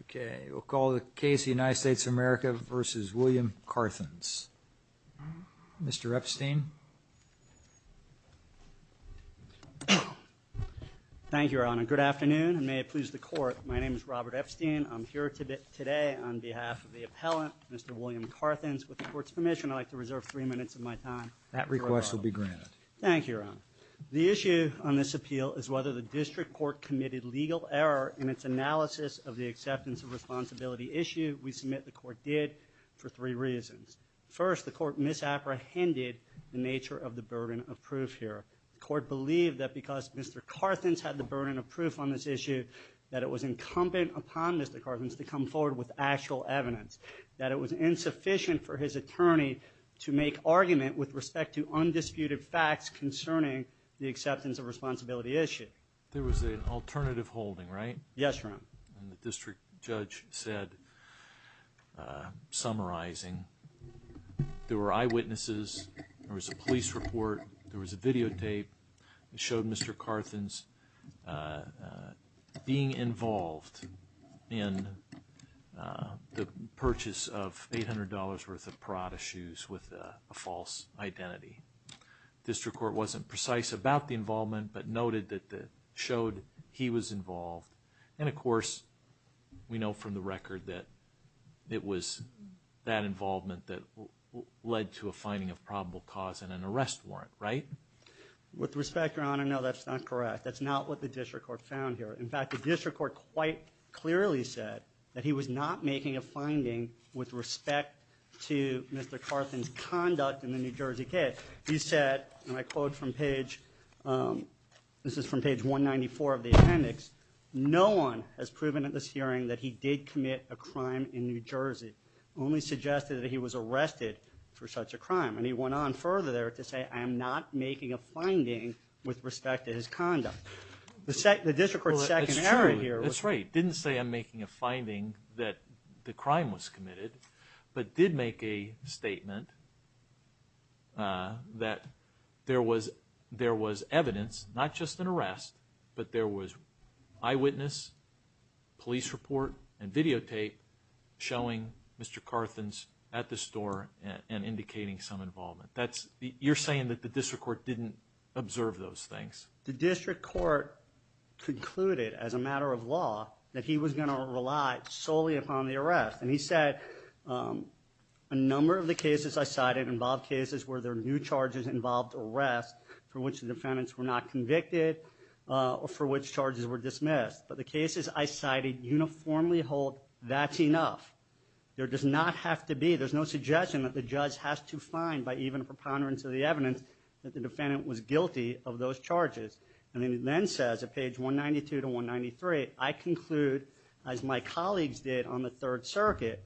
Okay, we'll call the case the United States of America versus William Carthens. Mr. Epstein. Thank you, Your Honor. Good afternoon and may it please the court. My name is Robert Epstein. I'm here today on behalf of the appellant, Mr. William Carthens. With the court's permission, I'd like to reserve three minutes of my time. That request will be granted. Thank you, Your Honor. The issue on this appeal is whether the district court committed legal error in its analysis of the acceptance of responsibility issue. We submit the court did for three reasons. First, the court misapprehended the nature of the burden of proof here. The court believed that because Mr. Carthens had the burden of proof on this issue, that it was incumbent upon Mr. Carthens to come forward with actual evidence. That it was insufficient for his attorney to make argument with respect to undisputed facts concerning the acceptance of responsibility issue. There was an alternative holding, right? Yes, Your Honor. The district judge said, summarizing, there were eyewitnesses, there was a police report, there was a videotape that showed Mr. Carthens being involved in the purchase of $800 worth of Parada shoes with a false identity. District court wasn't precise about the involvement, but noted that it showed he was involved. And of course, we know from the record that it was that involvement that led to a finding of probable cause and an arrest warrant, right? With respect, Your Honor, no, that's not correct. That's not what the district court found here. In was not making a finding with respect to Mr. Carthens' conduct in the New Jersey case. He said, and I quote from page, this is from page 194 of the appendix, no one has proven at this hearing that he did commit a crime in New Jersey. Only suggested that he was arrested for such a crime. And he went on further there to say, I am not making a finding with respect to his conduct. The district court's second hearing here. That's right. Didn't say I'm making a finding that the crime was committed, but did make a statement that there was evidence, not just an arrest, but there was eyewitness, police report, and videotape showing Mr. Carthens at the store and indicating some involvement. You're saying that the district court didn't observe those things? The district court concluded as a matter of law that he was going to rely solely upon the arrest. And he said, a number of the cases I cited involved cases where there were new charges involved arrest for which the defendants were not convicted or for which charges were dismissed. But the cases I cited uniformly hold that's enough. There does not have to be, there's no suggestion that the judge has to find by even a preponderance of the evidence that the defendant was guilty of those charges. And then he then says at page 192 to 193, I conclude, as my colleagues did on the Third Circuit,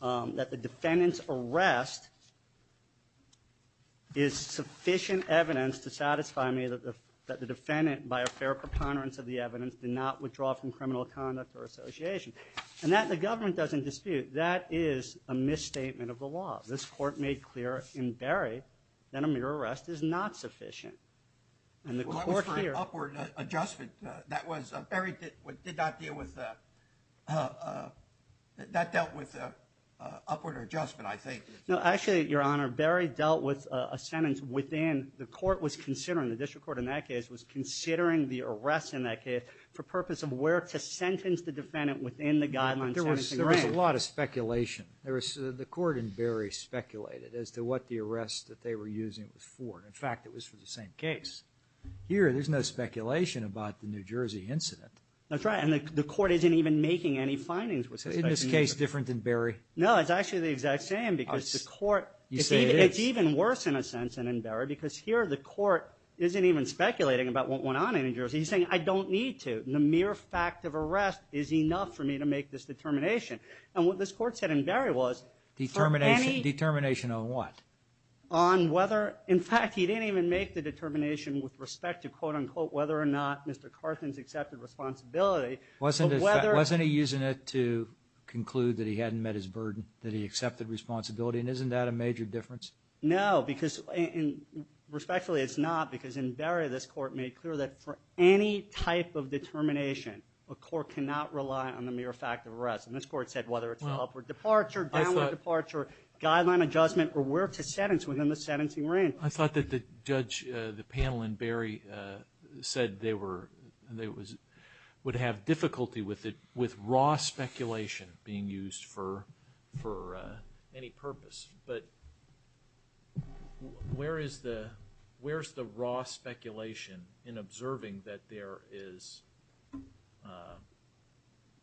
that the defendant's arrest is sufficient evidence to satisfy me that the defendant, by a fair preponderance of the evidence, did not withdraw from criminal conduct or association. And that the government doesn't dispute. That is a misstatement of the law. This court made clear in Berry that a mere arrest is not sufficient. Well, that was for an upward adjustment. That was, Berry did not deal with, that dealt with an upward adjustment, I think. No, actually, Your Honor, Berry dealt with a sentence within, the court was considering, the district court in that case was considering the arrest in that case for purpose of where to end the guidelines. There was a lot of speculation. There was, the court in Berry speculated as to what the arrest that they were using was for. In fact, it was for the same case. Here, there's no speculation about the New Jersey incident. That's right, and the court isn't even making any findings with respect to New Jersey. Isn't this case different than Berry? No, it's actually the exact same because the court, it's even worse in a sense than in Berry because here the court isn't even speculating about what went on in New Jersey. He's saying, I don't need to. A mere fact of arrest is enough for me to make this determination, and what this court said in Berry was, determination. Determination on what? On whether, in fact, he didn't even make the determination with respect to quote-unquote whether or not Mr. Carthens accepted responsibility. Wasn't he using it to conclude that he hadn't met his burden, that he accepted responsibility, and isn't that a major difference? No, because, respectfully, it's not because in Berry, this a court cannot rely on the mere fact of arrest, and this court said whether it's an upward departure, downward departure, guideline adjustment, or where to sentence within the sentencing range. I thought that the judge, the panel in Berry, said they would have difficulty with it with raw speculation being used for any purpose, but where is the raw speculation in observing that there is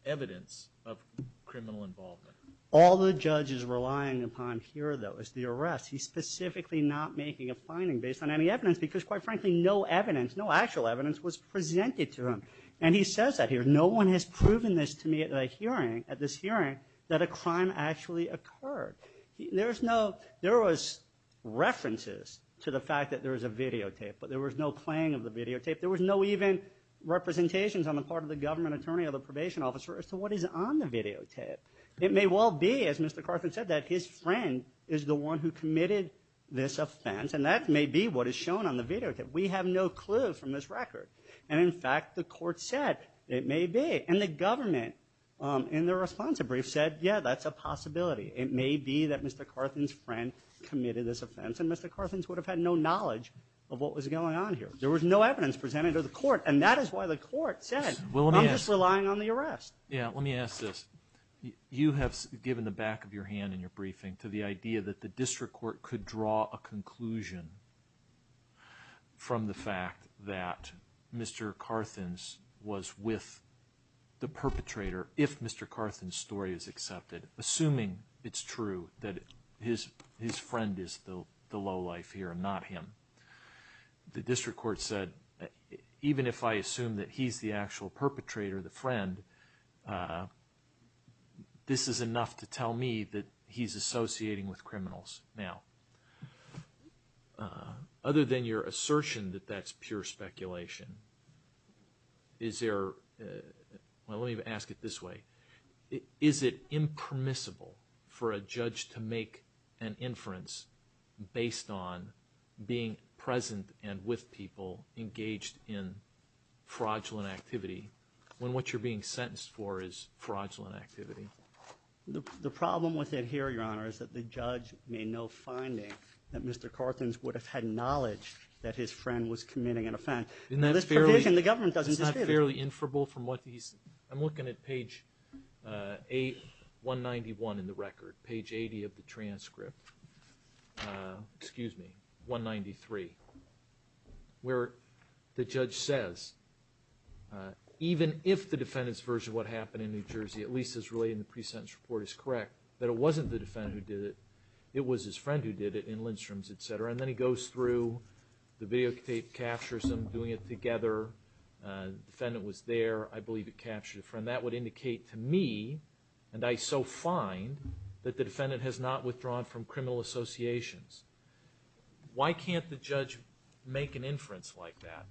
evidence of criminal involvement? All the judge is relying upon here, though, is the arrest. He's specifically not making a finding based on any evidence because, quite frankly, no evidence, no actual evidence, was presented to him, and he says that here. No one has proven this to me at this hearing that a crime actually occurred. There was references to the fact that there was a videotape, but there was no playing of the videotape. There was no even representations on the part of the government attorney or the probation officer as to what is on the videotape. It may well be, as Mr. Carthens said, that his friend is the one who committed this offense, and that may be what is shown on the videotape. We have no clue from this record, and, in fact, the court said it may be, and the government, in their response to brief, said, yeah, that's a possibility. It may be that Mr. Carthens' friend committed this offense, and Mr. Carthens would have had no knowledge of what was going on here. There was no evidence presented to the court, and that is why the court said, I'm just relying on the arrest. Yeah, let me ask this. You have given the back of your hand in your briefing to the idea that the district court could draw a conclusion from the fact that Mr. Carthens was with the perpetrator, if Mr. Carthens' story is accepted, assuming it's true that his friend is the lowlife here and not him. The district court said, even if I assume that he's the actual perpetrator, the friend, this is enough to tell me that he's associating with criminals. Now, other than your assertion that that's pure speculation, is there, well, let me ask it this way. Is it impermissible for a judge to make an inference based on being present and with people engaged in fraudulent activity, when what you're being sentenced for is fraudulent activity? The problem with it here, Your Honor, is that the judge made no finding that Mr. Carthens would have had knowledge that his friend was committing an offense. Now, this provision, the government doesn't dispute it. Isn't that fairly inferable from what he's, I'm looking at page 191 in the record, page 80 of the transcript, excuse me, 193, where the judge says, even if the defendant's what happened in New Jersey, at least as related in the pre-sentence report is correct, that it wasn't the defendant who did it, it was his friend who did it in Lindstrom's, etc. And then he goes through, the videotape captures him doing it together, defendant was there, I believe it captured a friend. That would indicate to me, and I so find, that the defendant has not withdrawn from criminal associations. Why can't the judge make an inference like that?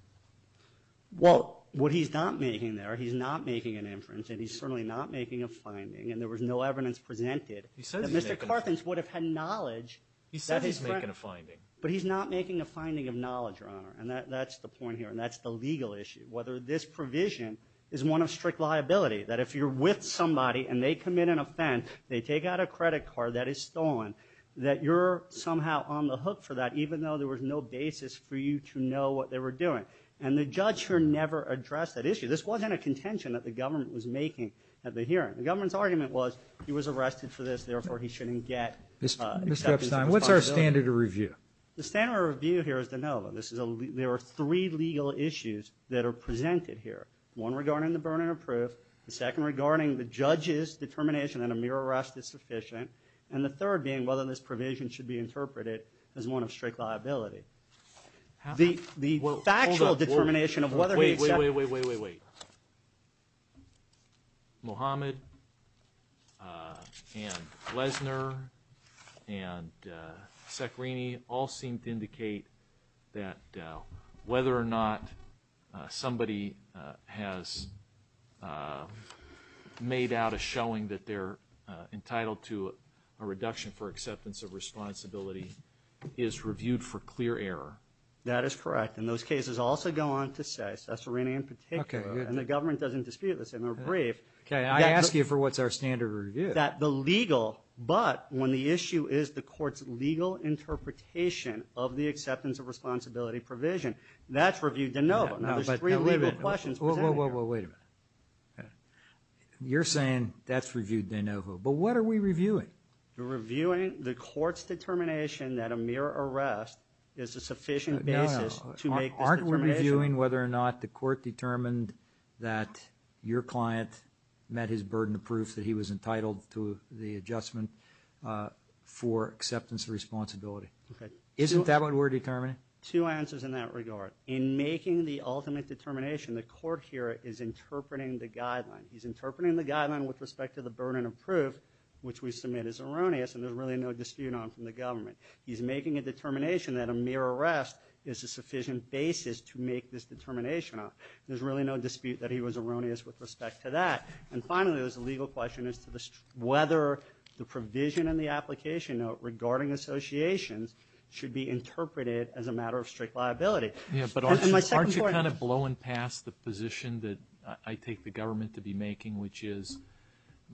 Well, what he's not making there, he's not making an inference, and he's certainly not making a finding, and there was no evidence presented that Mr. Carthens would have had knowledge that his friend. He says he's making a finding. But he's not making a finding of knowledge, Your Honor, and that's the point here, and that's the legal issue. Whether this provision is one of strict liability, that if you're with somebody and they commit an offense, they take out a credit card that is stolen, that you're somehow on the hook for that, even though there was no basis for you to know what they were doing. And the judge never addressed that issue. This wasn't a contention that the government was making at the hearing. The government's argument was, he was arrested for this, therefore he shouldn't get Mr. Epstein, what's our standard of review? The standard of review here is to know that there are three legal issues that are presented here. One regarding the burden of proof, the second regarding the judge's determination that a mere arrest is sufficient, and the third being whether this provision should be interpreted as one of strict liability. The factual determination of whether... Wait, wait, wait, wait, wait, wait, wait. Mohamed, and Lesner, and Saccarini all seem to indicate that whether or not somebody has made out a showing that they're entitled to a reduction for acceptance of responsibility is reviewed for clear error. That is correct, and those cases also go on to say, Saccarini in particular, and the government doesn't dispute this, and they're brief. Okay, I ask you for what's our standard of review. That the legal, but when the issue is the court's legal interpretation of the acceptance of responsibility provision, that's reviewed de novo. Now there's three legal questions presented here. Wait a minute. You're saying that's reviewed de novo, but what are we reviewing? We're reviewing the court's determination that a mere arrest is a sufficient basis to make this determination. No, no. Aren't we reviewing whether or not the court determined that your client met his burden of proof that he was entitled to the adjustment for acceptance of responsibility? Okay. Isn't that what we're determining? Two answers in that regard. In making the ultimate determination, the court here is interpreting the is erroneous, and there's really no dispute on from the government. He's making a determination that a mere arrest is a sufficient basis to make this determination on. There's really no dispute that he was erroneous with respect to that. And finally, there's a legal question as to whether the provision in the application note regarding associations should be interpreted as a matter of strict liability. Yeah, but aren't you kind of blowing past the position that I take the government to be making, which is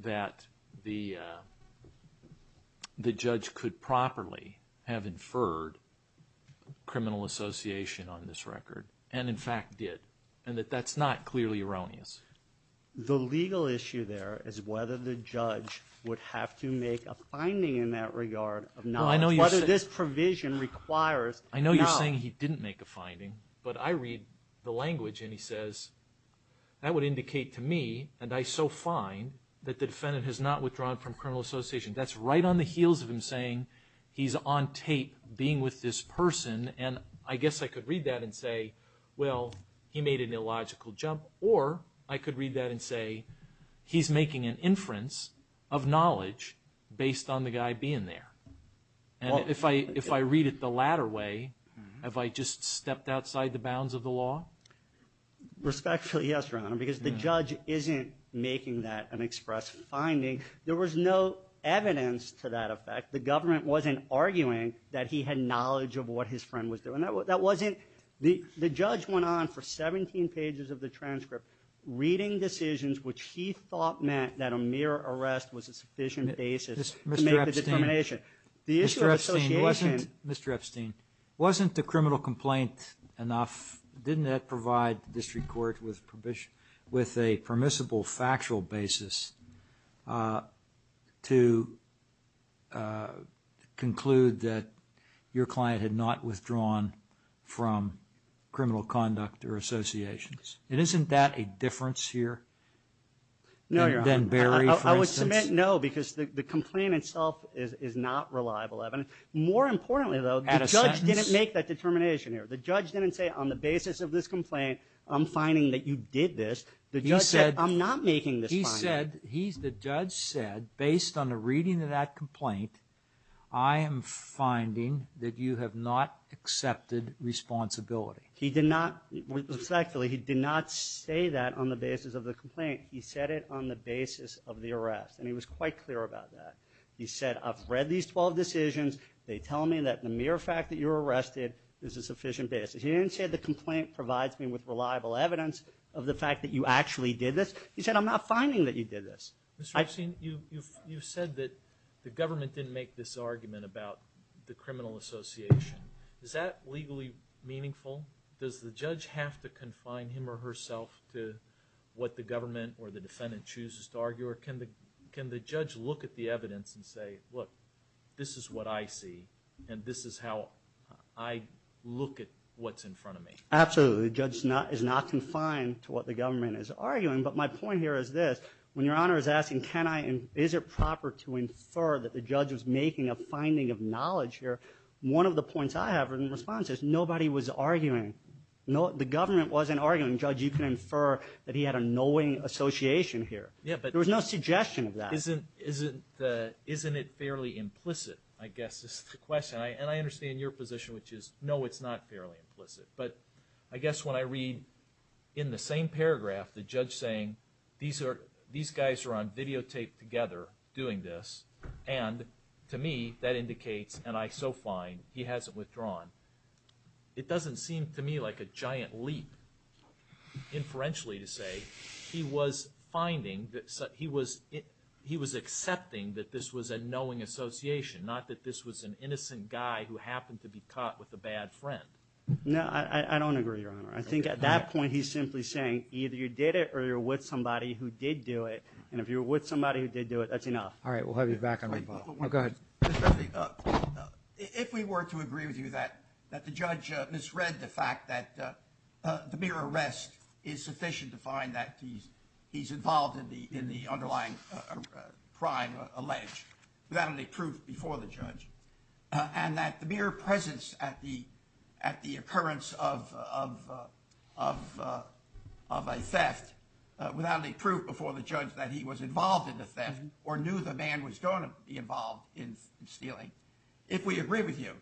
that the judge could properly have inferred criminal association on this record, and in fact did, and that that's not clearly erroneous. The legal issue there is whether the judge would have to make a finding in that regard of whether this provision requires. I know you're saying he didn't make a finding, but I read the language and he says that would find that the defendant has not withdrawn from criminal association. That's right on the heels of him saying he's on tape being with this person, and I guess I could read that and say, well, he made an illogical jump. Or I could read that and say he's making an inference of knowledge based on the guy being there. And if I read it the latter way, have I just stepped outside the bounds of the law? Respectfully, yes, Your Honor, because the judge isn't making that an express finding. There was no evidence to that effect. The government wasn't arguing that he had knowledge of what his friend was doing. The judge went on for 17 pages of the transcript reading decisions which he thought meant that a mere arrest was a sufficient basis to make the determination. Mr. Epstein, wasn't the criminal complaint enough? Didn't that provide the District Court with a permissible factual basis to conclude that your client had not withdrawn from criminal conduct or associations? And isn't that a difference here? No, Your Honor. I would submit no, because the complaint itself is not reliable evidence. More importantly, though, the judge didn't make that determination here. The judge didn't say, on the basis of this complaint, I'm finding that you did this. The judge said, I'm not making this. He said, the judge said, based on the reading of that complaint, I am finding that you have not He said it on the basis of the arrest, and he was quite clear about that. He said, I've read these 12 decisions. They tell me that the mere fact that you're arrested is a sufficient basis. He didn't say the complaint provides me with reliable evidence of the fact that you actually did this. He said, I'm not finding that you did this. Mr. Epstein, you've said that the government didn't make this argument about the criminal association. Is that legally meaningful? Does the judge have to confine him or herself to what the government or the defendant chooses to argue, or can the judge look at the evidence and say, look, this is what I see, and this is how I look at what's in front of me? Absolutely. The judge is not confined to what the government is arguing, but my point here is this. When Your Honor is asking, can I, and is it proper to infer that the judge was making a finding of knowledge here, one of the points I have in response is, nobody was arguing. The government wasn't arguing. Judge, you can infer that he had a knowing association here. There was no suggestion of that. Isn't it fairly implicit, I guess is the question, and I understand your position, which is, no, it's not fairly implicit, but I guess when I read in the same paragraph the judge saying, these guys are on videotape together doing this, and, to me, that indicates, and I so find, he hasn't withdrawn, it doesn't seem to me like a giant leap, inferentially to say, he was finding that, he was, he was accepting that this was a knowing association, not that this was an innocent guy who happened to be caught with a bad friend. No, I don't agree, Your Honor. I think at that point he's simply saying, either you did it or you're with somebody who did do it, and if you're with somebody who did do it, that's enough. All right, we'll have you back on repo. Go ahead. If we were to agree with you that the judge misread the fact that the mere arrest is sufficient to find that he's involved in the underlying crime alleged, without any proof before the judge, and that the mere presence at the occurrence of a theft, without any proof before the judge that he was involved in the theft, or knew the man was going to be involved in stealing, if we agree with you,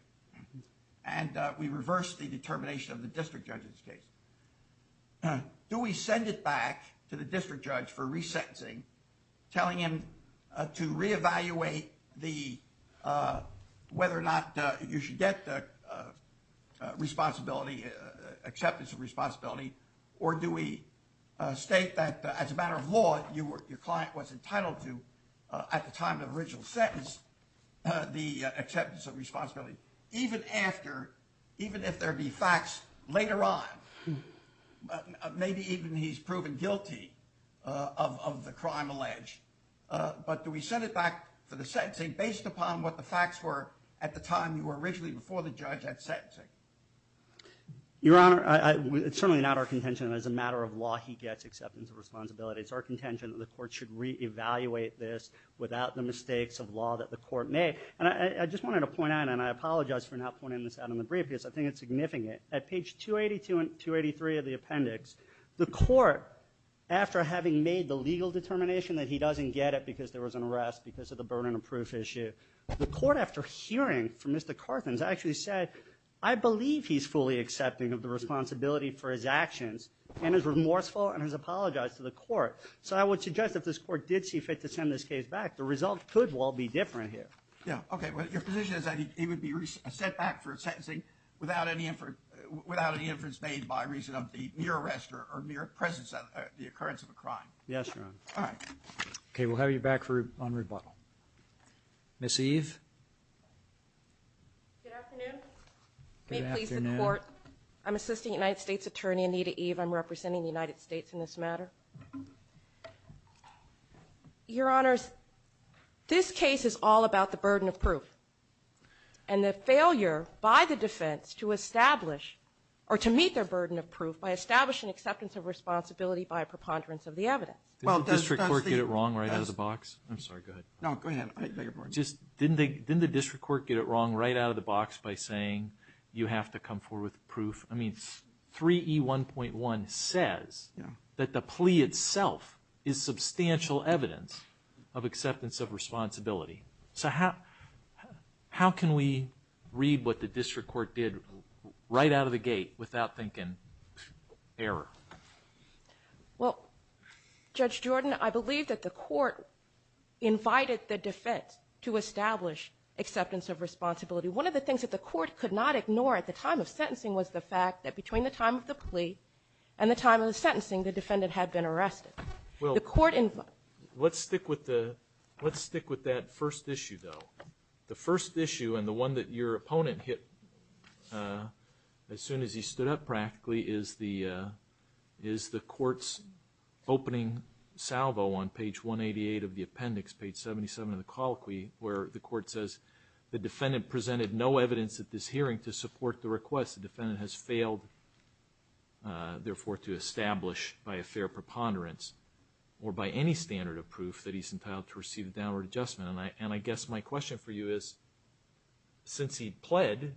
and we reverse the determination of the district judge in this case, do we send it back to the district judge for resentencing, telling him to reevaluate the, whether or not you should get the responsibility, acceptance of responsibility, or do we state that as a matter of law, your client was entitled to, at the time of the original sentence, the acceptance of responsibility, even after, even if there be facts later on, maybe even he's proven guilty of the crime alleged, but do we send it back for the sentencing based upon what the facts were at the time you were originally before the judge at sentencing? Your Honor, it's certainly not our contention that as a matter of law, he gets acceptance of responsibility. It's our contention that the court should reevaluate this without the mistakes of law that the court may, and I just wanted to point out, and I apologize for not pointing this out in the brief, because I think it's significant. At page 282 and 283 of the appendix, the court, after having made the legal determination that he doesn't get it because there was an arrest because of the burden of proof issue, the court, after hearing from Mr. Carthens, actually said, I believe he's fully accepting of the responsibility for his actions and is remorseful and has apologized to the court. So I would suggest if this court did see fit to send this case back, the result could well be different here. Yeah, okay, but your position is that he would be sent back for sentencing without any inference made by reason of the mere arrest or mere presence of the occurrence of a crime. Yes, Your Honor. All right. Okay, we'll have you back on rebuttal. Ms. Eve. Good afternoon. May it please the court, I'm assistant United States Attorney Anita Eve. I'm representing the United States in this matter. Your Honors, this case is all about the burden of proof and the failure by the defense to establish or to meet their burden of proof by establishing acceptance of responsibility by a preponderance of the evidence. Well, did the district court get it wrong right out of the box? I'm sorry, go ahead. No, go ahead. I beg your pardon. Just, didn't they, didn't the district court get it wrong right out of the box by saying you have to come forward with proof? I mean, 3E1.1 says that the plea itself is substantial evidence of acceptance of responsibility. So how, how can we read what the district court did right out of the gate without thinking error? Well, Judge Jordan, I believe that the court invited the defense to establish acceptance of responsibility. One of the things that the court could not ignore at the time of sentencing was the fact that between the time of the plea and the time of the sentencing, the defendant had been arrested. Well, let's stick with the, let's stick with that first issue though. The first issue and the one that your opponent hit as soon as he stood up practically is the, is the court's opening salvo on page 188 of the mix, page 77 of the colloquy where the court says the defendant presented no evidence at this hearing to support the request. The defendant has failed, therefore, to establish by a fair preponderance or by any standard of proof that he's entitled to receive a downward adjustment. And I, and I guess my question for you is, since he pled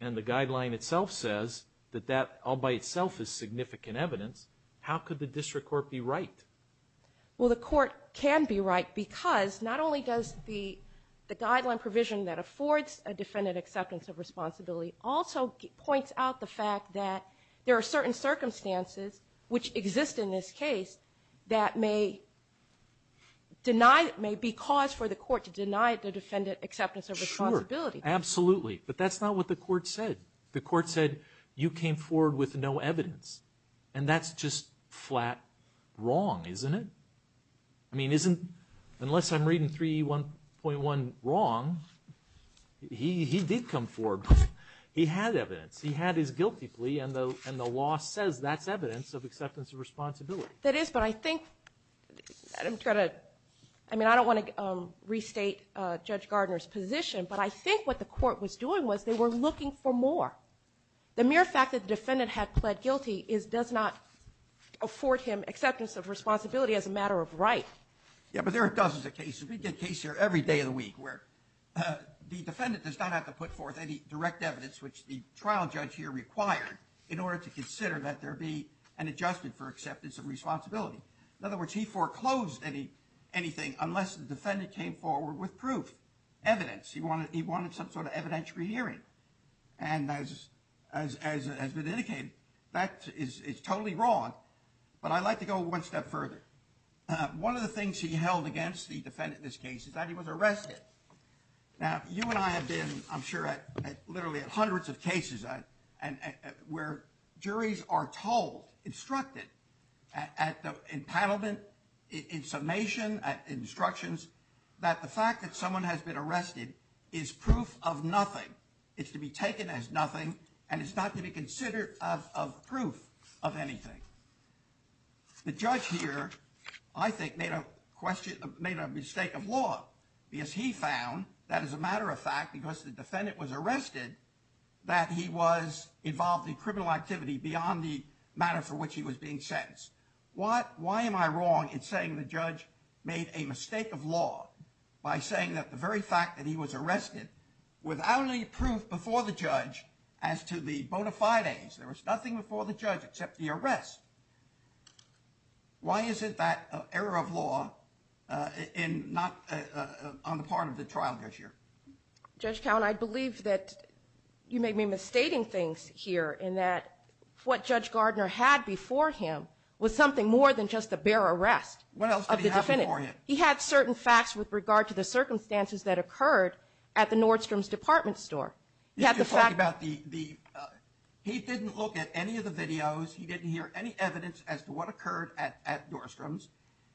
and the guideline itself says that that all by itself is significant evidence, how could the district court be right? Well, the court can be right because not only does the, the guideline provision that affords a defendant acceptance of responsibility also points out the fact that there are certain circumstances, which exist in this case, that may deny, may be cause for the court to deny the defendant acceptance of responsibility. Absolutely. But that's not what the court said. The court said you came forward with no evidence and that's just flat wrong, isn't it? I mean, isn't, unless I'm reading 3E1.1 wrong, he, he did come forward. He had evidence. He had his guilty plea and the, and the law says that's evidence of acceptance of responsibility. That is, but I think that I'm trying to, I mean, I don't want to restate Judge Gardner's position, but I think what the court was doing was they were looking for is, does not afford him acceptance of responsibility as a matter of right. Yeah, but there are dozens of cases. We get cases here every day of the week where the defendant does not have to put forth any direct evidence, which the trial judge here required in order to consider that there be an adjustment for acceptance of responsibility. In other words, he foreclosed any, anything unless the defendant came forward with proof, evidence. He wanted, he wanted some sort of evidentiary hearing. And as, as, as has been indicated, that is, is totally wrong, but I'd like to go one step further. One of the things he held against the defendant in this case is that he was arrested. Now, you and I have been, I'm sure, at literally hundreds of cases where juries are told, instructed at the, in paneling, in summation, at instructions, that the fact that someone has been arrested is proof of nothing. It's to be taken as nothing, and it's not to be considered of, of proof of anything. The judge here, I think, made a question, made a mistake of law, because he found that as a matter of fact, because the defendant was arrested, that he was involved in criminal activity beyond the matter for which he was being sentenced. What, why am I wrong in the judge made a mistake of law by saying that the very fact that he was arrested without any proof before the judge as to the bona fides, there was nothing before the judge except the arrest. Why is it that error of law in, not on the part of the trial judge here? Judge Cowen, I believe that you may be misstating things here in that what Judge Gardner had before him was something more than just a bare arrest of the defendant. What else did he have before him? He had certain facts with regard to the circumstances that occurred at the Nordstrom's department store. You're talking about the, the, he didn't look at any of the videos, he didn't hear any evidence as to what occurred at, at Nordstrom's.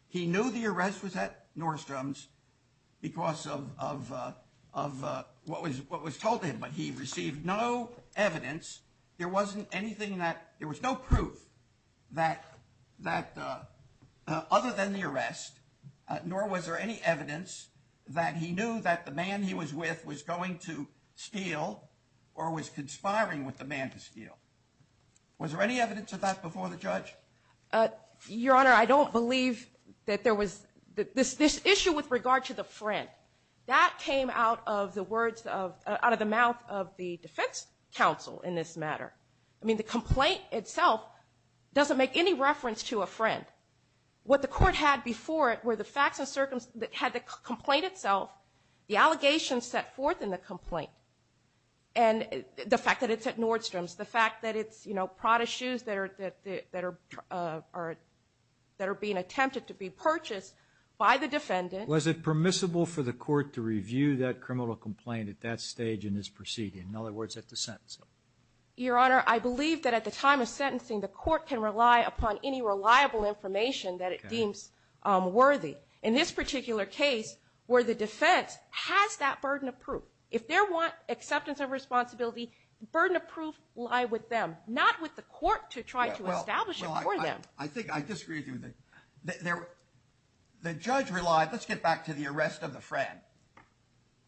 He knew the arrest was at Nordstrom's because of, of, of what was, what was told to him, but he received no evidence. There wasn't anything that, there was no proof that, that other than the arrest, nor was there any evidence that he knew that the man he was with was going to steal or was conspiring with the man to steal. Was there any evidence of that before the judge? Your Honor, I don't believe that there was, this, this issue with regard to the friend, that came out of the words of, out of the mouth of the defense counsel in this matter. I mean, the complaint itself doesn't make any reference to a friend. What the court had before it were the facts and circumstances that had the complaint itself, the allegations set forth in the complaint, and the fact that it's at Nordstrom's, the fact that it's, you know, Prada shoes that are, that, that are, are, that are being attempted to be purchased by the defendant. Was it permissible for the court to review that criminal complaint at that stage in this Your Honor, I believe that at the time of sentencing, the court can rely upon any reliable information that it deems worthy. In this particular case, where the defense has that burden of proof, if they're want acceptance of responsibility, burden of proof lie with them, not with the court to try to establish it for them. I think I disagree with you there. The judge relied, let's get back to the arrest of the friend.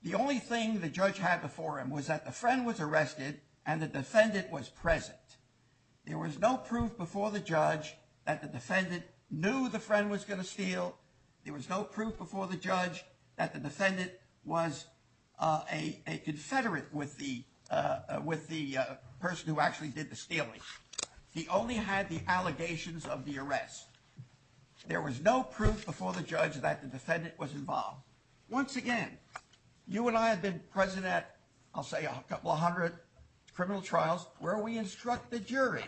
The only thing the judge had before him was that the friend was arrested and the defendant was present. There was no proof before the judge that the defendant knew the friend was going to steal. There was no proof before the judge that the defendant was a, a confederate with the, with the person who actually did the stealing. He only had the allegations of the arrest. There was no proof before the judge that the defendant was involved. Once again, you and I have been present at, I'll say a couple of hundred criminal trials where we instruct the jury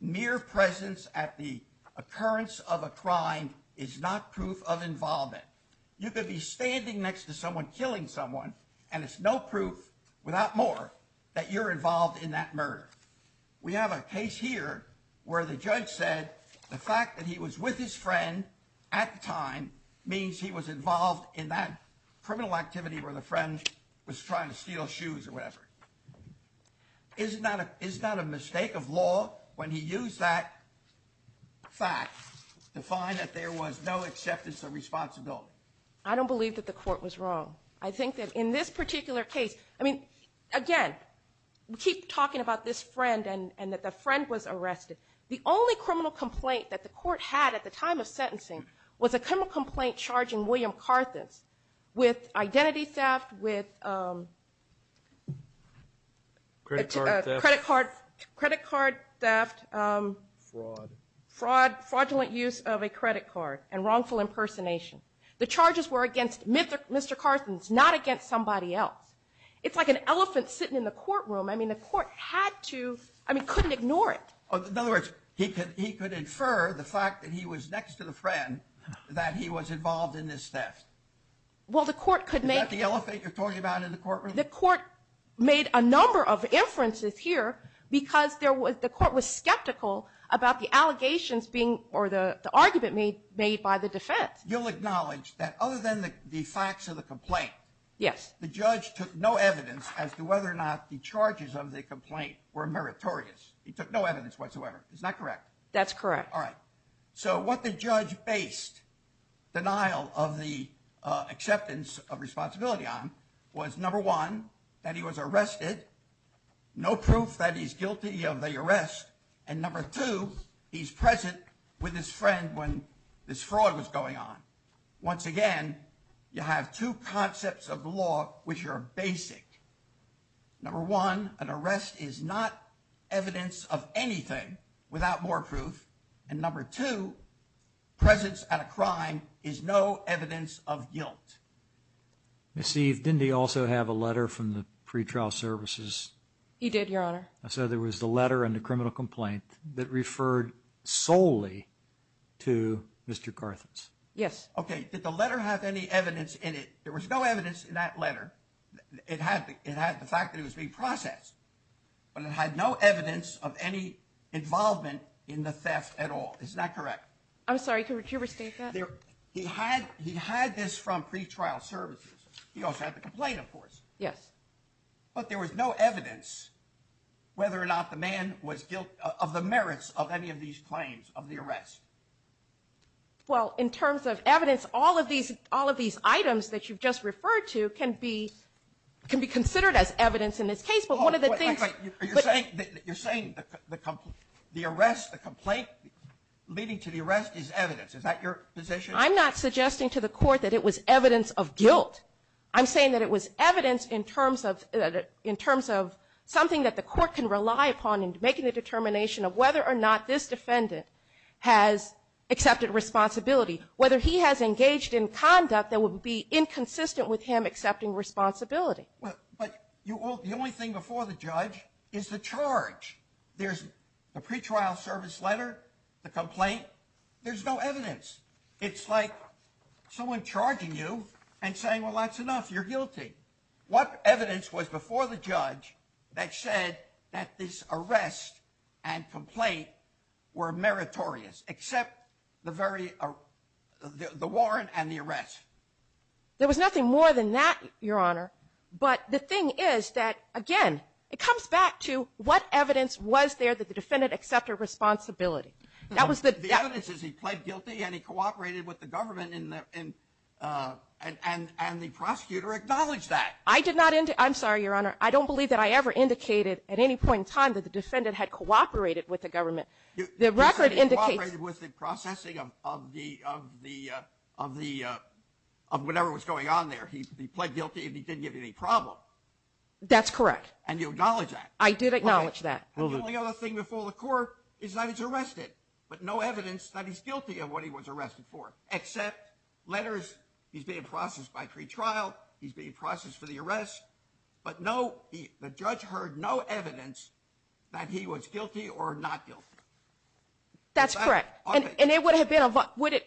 mere presence at the occurrence of a crime is not proof of involvement. You could be standing next to someone killing someone and it's no proof without more that you're involved in that murder. We have a case here where the judge said the fact that he was with his friend at the time means he was involved in that criminal activity where the friend was trying to steal shoes or whatever. Isn't that a, is that a mistake of law when he used that fact to find that there was no acceptance of responsibility? I don't believe that the court was wrong. I think that in this particular case, I mean, again, we keep talking about this friend was arrested. The only criminal complaint that the court had at the time of sentencing was a criminal complaint charging William Carthens with identity theft, with credit card theft, fraud, fraudulent use of a credit card and wrongful impersonation. The charges were against Mr. Carthens, not against somebody else. It's like an elephant sitting in the courtroom. I mean, the court had to, I mean, he couldn't ignore it. In other words, he could, he could infer the fact that he was next to the friend that he was involved in this theft. Well, the court could make... Is that the elephant you're talking about in the courtroom? The court made a number of inferences here because there was, the court was skeptical about the allegations being, or the argument made, made by the defense. You'll acknowledge that other than the facts of the complaint. Yes. The judge took no evidence as to whether or not the charges of the complaint were meritorious. He took no evidence whatsoever. Is that correct? That's correct. All right. So what the judge based denial of the acceptance of responsibility on was, number one, that he was arrested. No proof that he's guilty of the arrest. And number two, he's present with his friend when this fraud was going on. Once again, you have two Number one, an arrest is not evidence of anything without more proof. And number two, presence at a crime is no evidence of guilt. Miss Eve, didn't he also have a letter from the pretrial services? He did, your honor. So there was the letter and the criminal complaint that referred solely to Mr. Carthens. Yes. Okay. Did the letter have any evidence in it? There it had the fact that it was being processed, but it had no evidence of any involvement in the theft at all. Is that correct? I'm sorry, could you restate that? He had this from pretrial services. He also had the complaint, of course. Yes. But there was no evidence whether or not the man was guilt of the merits of any of these claims of the arrest. Well, in terms of evidence, all of these items that you've just referred to can be considered as evidence in this case. But one of the things... You're saying the arrest, the complaint leading to the arrest is evidence. Is that your position? I'm not suggesting to the court that it was evidence of guilt. I'm saying that it was evidence in terms of something that the court can rely upon in making the determination of whether or not this defendant has accepted responsibility, whether he has engaged in conduct that would be inconsistent with him accepting responsibility. But the only thing before the judge is the charge. There's the pretrial service letter, the complaint. There's no evidence. It's like someone charging you and saying, well, that's enough. You're guilty. What evidence was before the judge that said that this arrest and complaint were meritorious, except the very, the warrant and the arrest? There was nothing more than that, Your Honor. But the thing is that, again, it comes back to what evidence was there that the defendant accepted responsibility. That was the... The evidence is he pled guilty and he cooperated with the government and the prosecutor acknowledged that. I did not... I'm sorry, Your Honor. I don't believe that I ever indicated at any point in time that the defendant had cooperated with the government. The record indicates... He said he cooperated with the processing of the, of the, of the, of whatever was going on there. He pled guilty and he didn't give you any problem. That's correct. And you acknowledge that? I did acknowledge that. The only other thing before the court is that he's arrested, but no evidence that he's guilty of what he was But no... The judge heard no evidence that he was guilty or not guilty. That's correct. And it would have been... Would it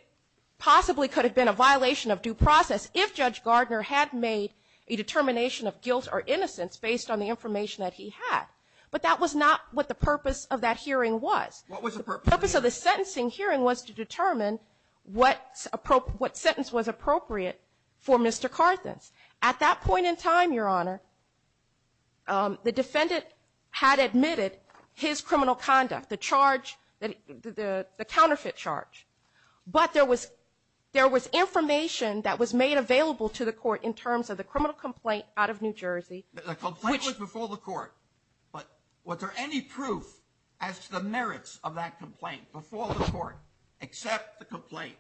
possibly could have been a violation of due process if Judge Gardner had made a determination of guilt or innocence based on the information that he had. But that was not what the purpose of that hearing was. What was the purpose? The purpose of the sentencing hearing was to determine what sentence was appropriate for Mr. Carthens. At that point in time, Your Honor, the defendant had admitted his criminal conduct, the charge, the counterfeit charge. But there was information that was made available to the court in terms of the criminal complaint out of New Jersey. The complaint was before the court, but was there any proof as to merits of that complaint before the court except the complaint?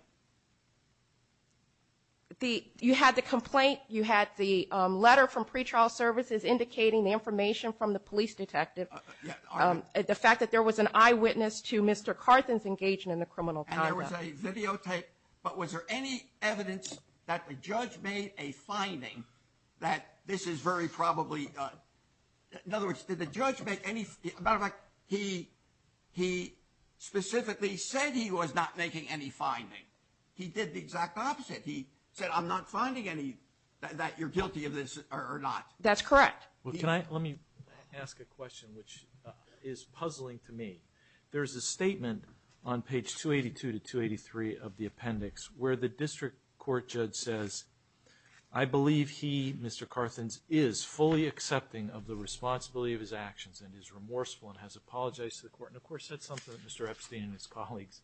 You had the complaint. You had the letter from pretrial services indicating the information from the police detective. The fact that there was an eyewitness to Mr. Carthens engaging in the criminal conduct. And there was a videotape. But was there any evidence that the judge made a finding that this is very probably... In other words, did the judge make any... Matter of fact, he specifically said he was not making any finding. He did the exact opposite. He said, I'm not finding any that you're guilty of this or not. That's correct. Well, can I... Let me ask a question, which is puzzling to me. There's a statement on page 282 to 283 of the appendix where the district court judge says, I believe he, Mr. Carthens, is fully accepting of the responsibility. Has he ever said something that Mr. Epstein and his colleagues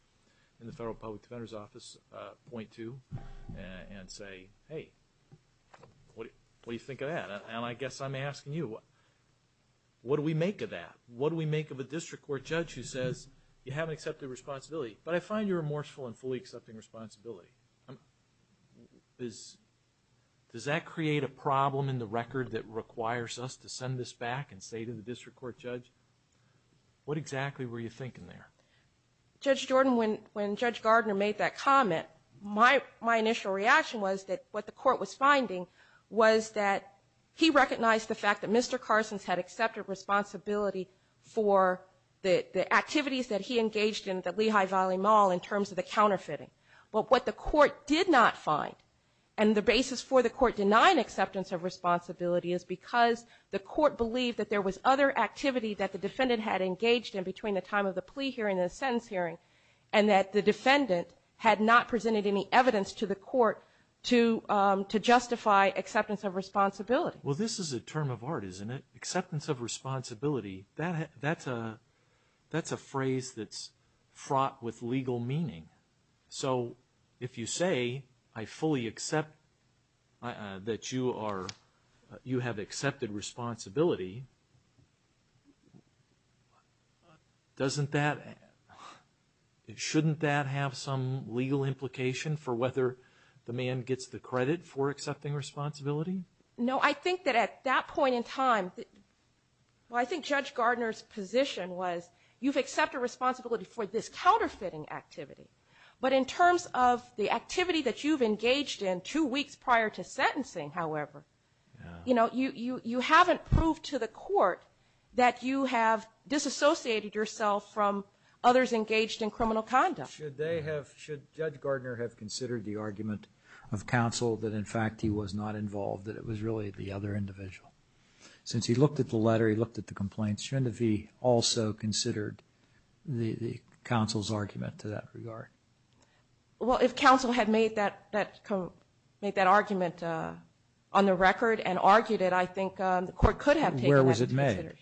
in the Federal Public Defender's Office point to and say, hey, what do you think of that? And I guess I'm asking you, what do we make of that? What do we make of a district court judge who says, you haven't accepted the responsibility, but I find you're remorseful and fully accepting responsibility. Does that create a problem in the record that requires us to send this back and say to the district court judge, what exactly were you thinking there? Judge Jordan, when Judge Gardner made that comment, my initial reaction was that what the court was finding was that he recognized the fact that Mr. Carthens had accepted responsibility for the activities that he engaged in at the Lehigh Valley Mall in terms of the counterfeiting. But what the court did not find, and the basis for the court denying acceptance of responsibility is because the court believed that there was other activity that the defendant had engaged in between the time of the plea hearing and the sentence hearing, and that the defendant had not presented any evidence to the court to justify acceptance of responsibility. Well, this is a term of art, isn't it? Acceptance of responsibility, that's a phrase that's with legal meaning. So if you say, I fully accept that you have accepted responsibility, doesn't that, shouldn't that have some legal implication for whether the man gets the credit for accepting responsibility? No, I think that at that point in time, well, I think Judge Gardner's position was, you've accepted responsibility for this counterfeiting activity, but in terms of the activity that you've engaged in two weeks prior to sentencing, however, you know, you haven't proved to the court that you have disassociated yourself from others engaged in criminal conduct. Should they have, should Judge Gardner have considered the argument of counsel that in fact he was not involved, that it was really the other individual? Since he looked at the letter, he also considered the counsel's argument to that regard. Well, if counsel had made that argument on the record and argued it, I think the court could have taken that. Where was it made?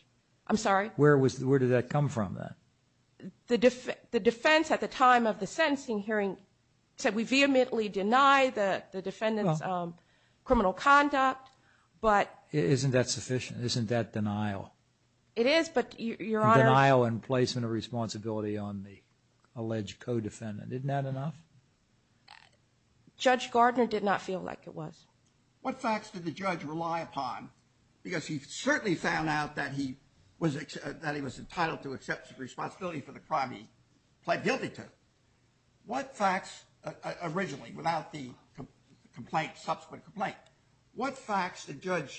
I'm sorry? Where was, where did that come from then? The defense at the time of the sentencing hearing said we vehemently deny the defendant's criminal conduct, but... Denial and placement of responsibility on the alleged co-defendant, isn't that enough? Judge Gardner did not feel like it was. What facts did the judge rely upon? Because he certainly found out that he was, that he was entitled to accept responsibility for the crime he pled guilty to. What facts, originally without the complaint, subsequent complaint, what facts did the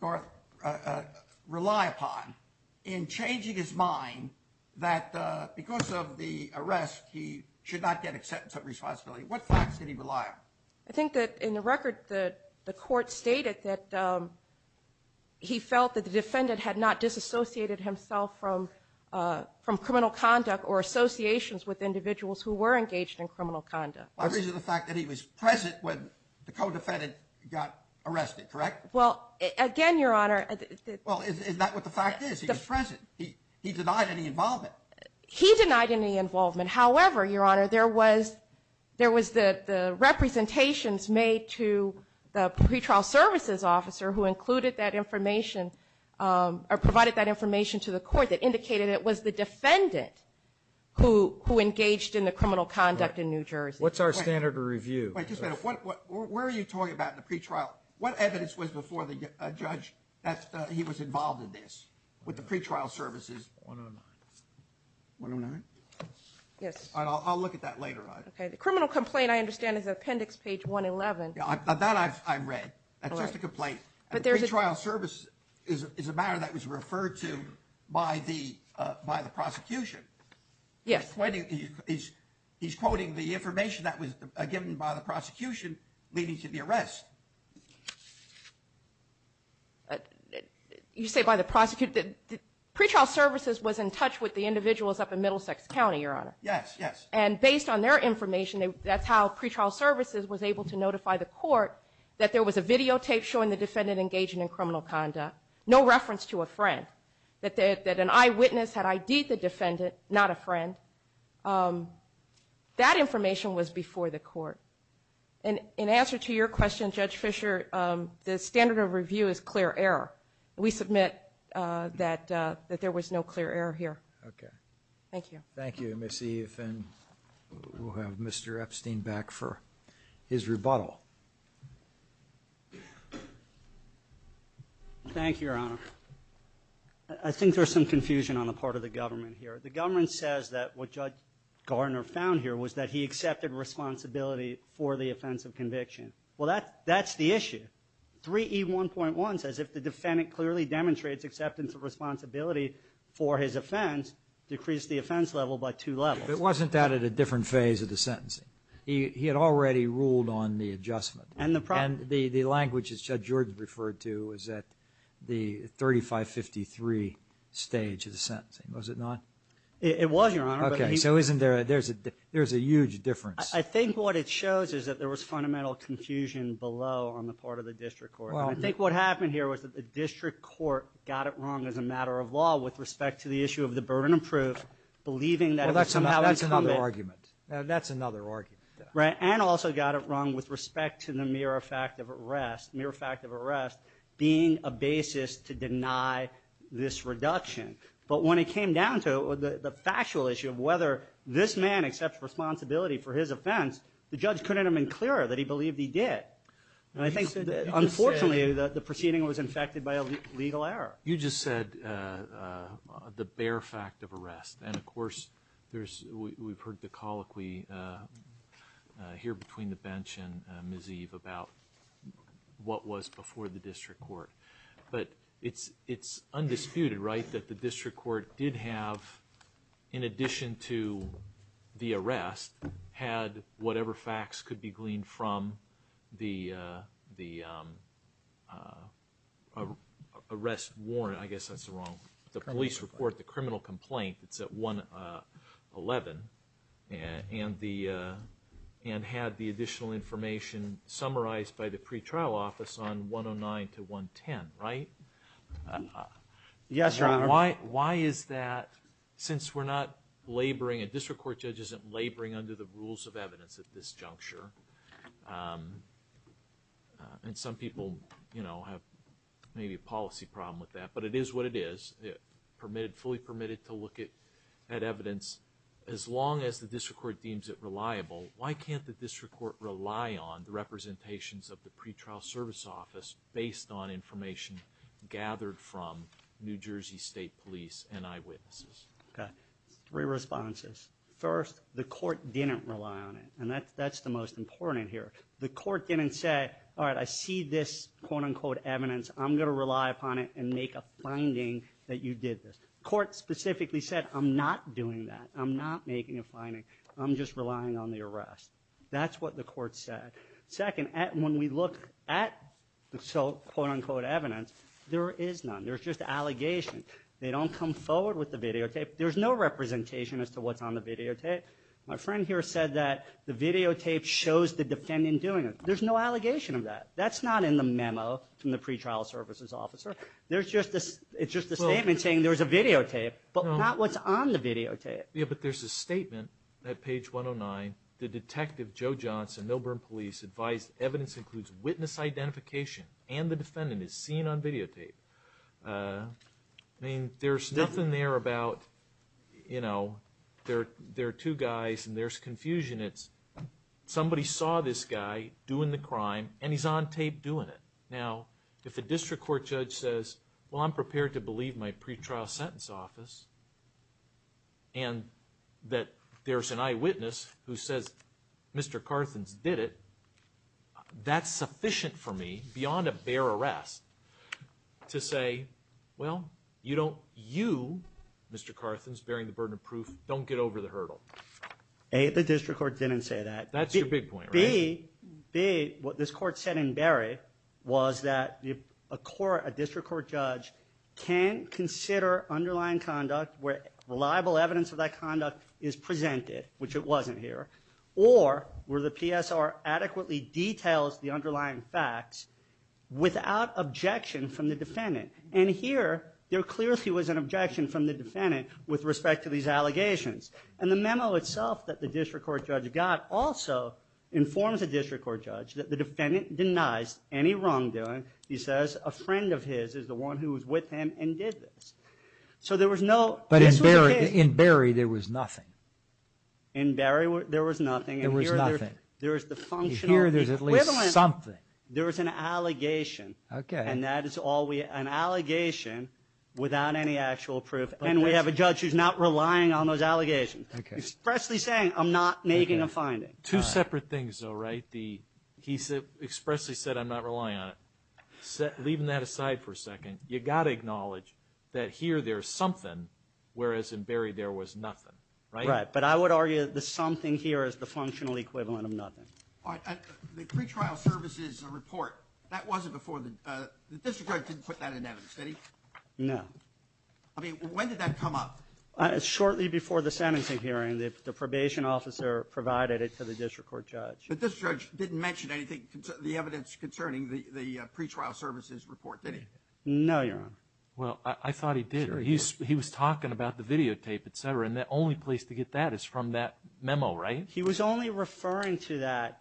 court rely upon in changing his mind that because of the arrest he should not get acceptance of responsibility? What facts did he rely on? I think that in the record the court stated that he felt that the defendant had not disassociated himself from criminal conduct or associations with individuals who were engaged in criminal conduct. The reason is the fact that he was present when the co-defendant got arrested, correct? Well, again, your honor... Well, is that what the fact is? He was present. He denied any involvement. He denied any involvement. However, your honor, there was, there was the representations made to the pretrial services officer who included that information, or provided that information to the court that indicated it was the defendant who engaged in the criminal conduct in New Jersey. What's our standard of where are you talking about in the pretrial? What evidence was before the judge that he was involved in this with the pretrial services? 109. 109? Yes. I'll look at that later on. Okay, the criminal complaint I understand is appendix page 111. Now that I've read. That's just a complaint. But there's a trial service is a matter that was referred to by the prosecution. Yes. He's, he's quoting the information that was given by the prosecution leading to the arrest. You say by the prosecutor, the pretrial services was in touch with the individuals up in Middlesex County, your honor. Yes, yes. And based on their information, that's how pretrial services was able to notify the court that there was a videotape showing the defendant engaging in criminal conduct. No reference to a friend. That an eyewitness had ID'd the defendant, not a friend. That information was before the court. And in answer to your question, Judge Fisher, the standard of review is clear error. We submit that there was no clear error here. Okay. Thank you. Thank you, Miss Eve. And we'll have Mr. Epstein back for his rebuttal. Thank you, your honor. I think there's some confusion on the part of the government here. The government says that what Judge Gardner found here was that he accepted responsibility for the offense of conviction. Well, that, that's the issue. 3E1.1 says if the defendant clearly demonstrates acceptance of responsibility for his offense, decrease the offense level by two levels. It wasn't that at a different phase of the sentencing. He, he had already ruled on the adjustment. And the language as Judge Jordan referred to was that the 3553 stage of the sentencing. Was it not? It was, your honor. Okay. So isn't there, there's a, there's a huge difference. I think what it shows is that there was fundamental confusion below on the part of the district court. I think what happened here was that the district court got it wrong as a matter of law with respect to the issue of the burden of proof, believing that. That's another argument. That's another argument. Right. And also got it wrong with respect to the mere fact of arrest, mere fact of arrest being a basis to deny this reduction. But when it came down to the factual issue of whether this man accepts responsibility for his offense, the judge couldn't have been clearer that he believed he did. And I think, unfortunately, the proceeding was infected by a legal error. You just said the bare fact of arrest. And of course, there's, we've heard the colloquy here between the bench and Ms. Eve about what was before the district court. But it's, it's undisputed, right, that the district court did have, in addition to the arrest, had whatever facts could be gleaned from the, the arrest warrant. I guess that's wrong. The police report, the criminal complaint, it's at 111. And the, and had the additional information summarized by the pretrial office on 109 to 110, right? Yes, your honor. Why, why is that, since we're not laboring, a district court judge isn't laboring under the rules of evidence at this juncture. And some people, you know, have maybe a policy problem with that, but it is what it is, permitted, fully permitted to look at, at evidence. As long as the district court deems it reliable, why can't the district court rely on the representations of the pretrial service office based on information gathered from New Jersey State Police and eyewitnesses? Okay, three responses. First, the court didn't rely on it. And that's, that's the most important here. The court didn't say, all right, I see this quote-unquote evidence. I'm going to rely upon it and make a finding that you did this. Court specifically said, I'm not doing that. I'm not making a finding. I'm just relying on the arrest. That's what the court said. Second, when we look at the quote-unquote evidence, there is none. There's just allegation. They don't come forward with the videotape. There's no representation as to what's on the videotape. My friend here said that the videotape shows the defendant doing it. There's no allegation of that. That's not in the statement. It's just a statement saying there's a videotape, but not what's on the videotape. Yeah, but there's a statement at page 109. The detective, Joe Johnson, Milburn Police, advised evidence includes witness identification and the defendant is seen on videotape. I mean, there's nothing there about, you know, there are two guys and there's confusion. It's somebody saw this guy doing the crime and he's on tape doing it. Now, if a district court judge says, well, I'm prepared to believe my pretrial sentence office and that there's an eyewitness who says Mr. Carthens did it, that's sufficient for me, beyond a bare arrest, to say, well, you don't, you, Mr. Carthens, bearing the burden of proof, don't get over the hurdle. A, the district court didn't say that. That's your big point, right? B, what this court said in Berry was that a court, a district court judge can consider underlying conduct where reliable evidence of that conduct is presented, which it wasn't here, or where the PSR adequately details the underlying facts without objection from the defendant. And here, there clearly was an objection from the defendant with respect to these allegations. And the memo itself that the district court judge got also informs the district court judge that the defendant denies any wrongdoing. He says a friend of his is the one who was with him and did this. So there was no, but in Berry, in Berry, there was nothing. In Berry, there was nothing. There was nothing. There was the functional equivalent. There was an allegation. Okay. And that is all we, an allegation without any actual proof. And we have a judge who's not relying on those I'm not making a finding. Two separate things though, right? He expressly said I'm not relying on it. Leaving that aside for a second, you got to acknowledge that here there's something, whereas in Berry there was nothing, right? Right. But I would argue the something here is the functional equivalent of nothing. All right. The pretrial services report, that wasn't before the, the district judge didn't put that in evidence, did he? No. I mean, when did that come up? Shortly before the sentencing hearing, the probation officer provided it to the district court judge. But this judge didn't mention anything, the evidence concerning the, the pretrial services report, did he? No, Your Honor. Well, I thought he did. He's, he was talking about the videotape, et cetera. And the only place to get that is from that memo, right? He was only referring to that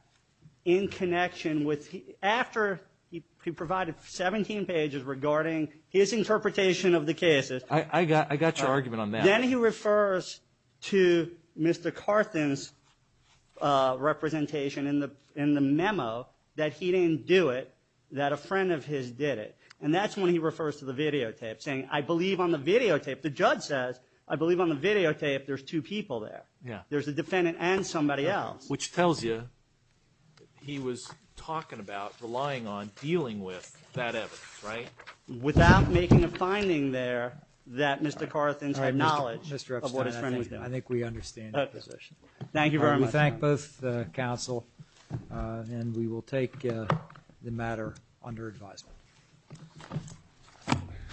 in connection with, after he provided 17 pages regarding his interpretation of the cases. I, I got, I got your argument on that. Then he refers to Mr. Carthen's representation in the, in the memo that he didn't do it, that a friend of his did it. And that's when he refers to the videotape saying, I believe on the videotape. The judge says, I believe on the videotape there's two people there. Yeah. There's a defendant and somebody else. Which tells you he was talking about relying on, dealing with that evidence, right? Without making a finding there that Mr. Carthen's had knowledge of what his friend was doing. Mr. Epstein, I think, I think we understand your position. Thank you very much, Your Honor. We thank both, uh, counsel, uh, and we will take, uh, the matter under advisement.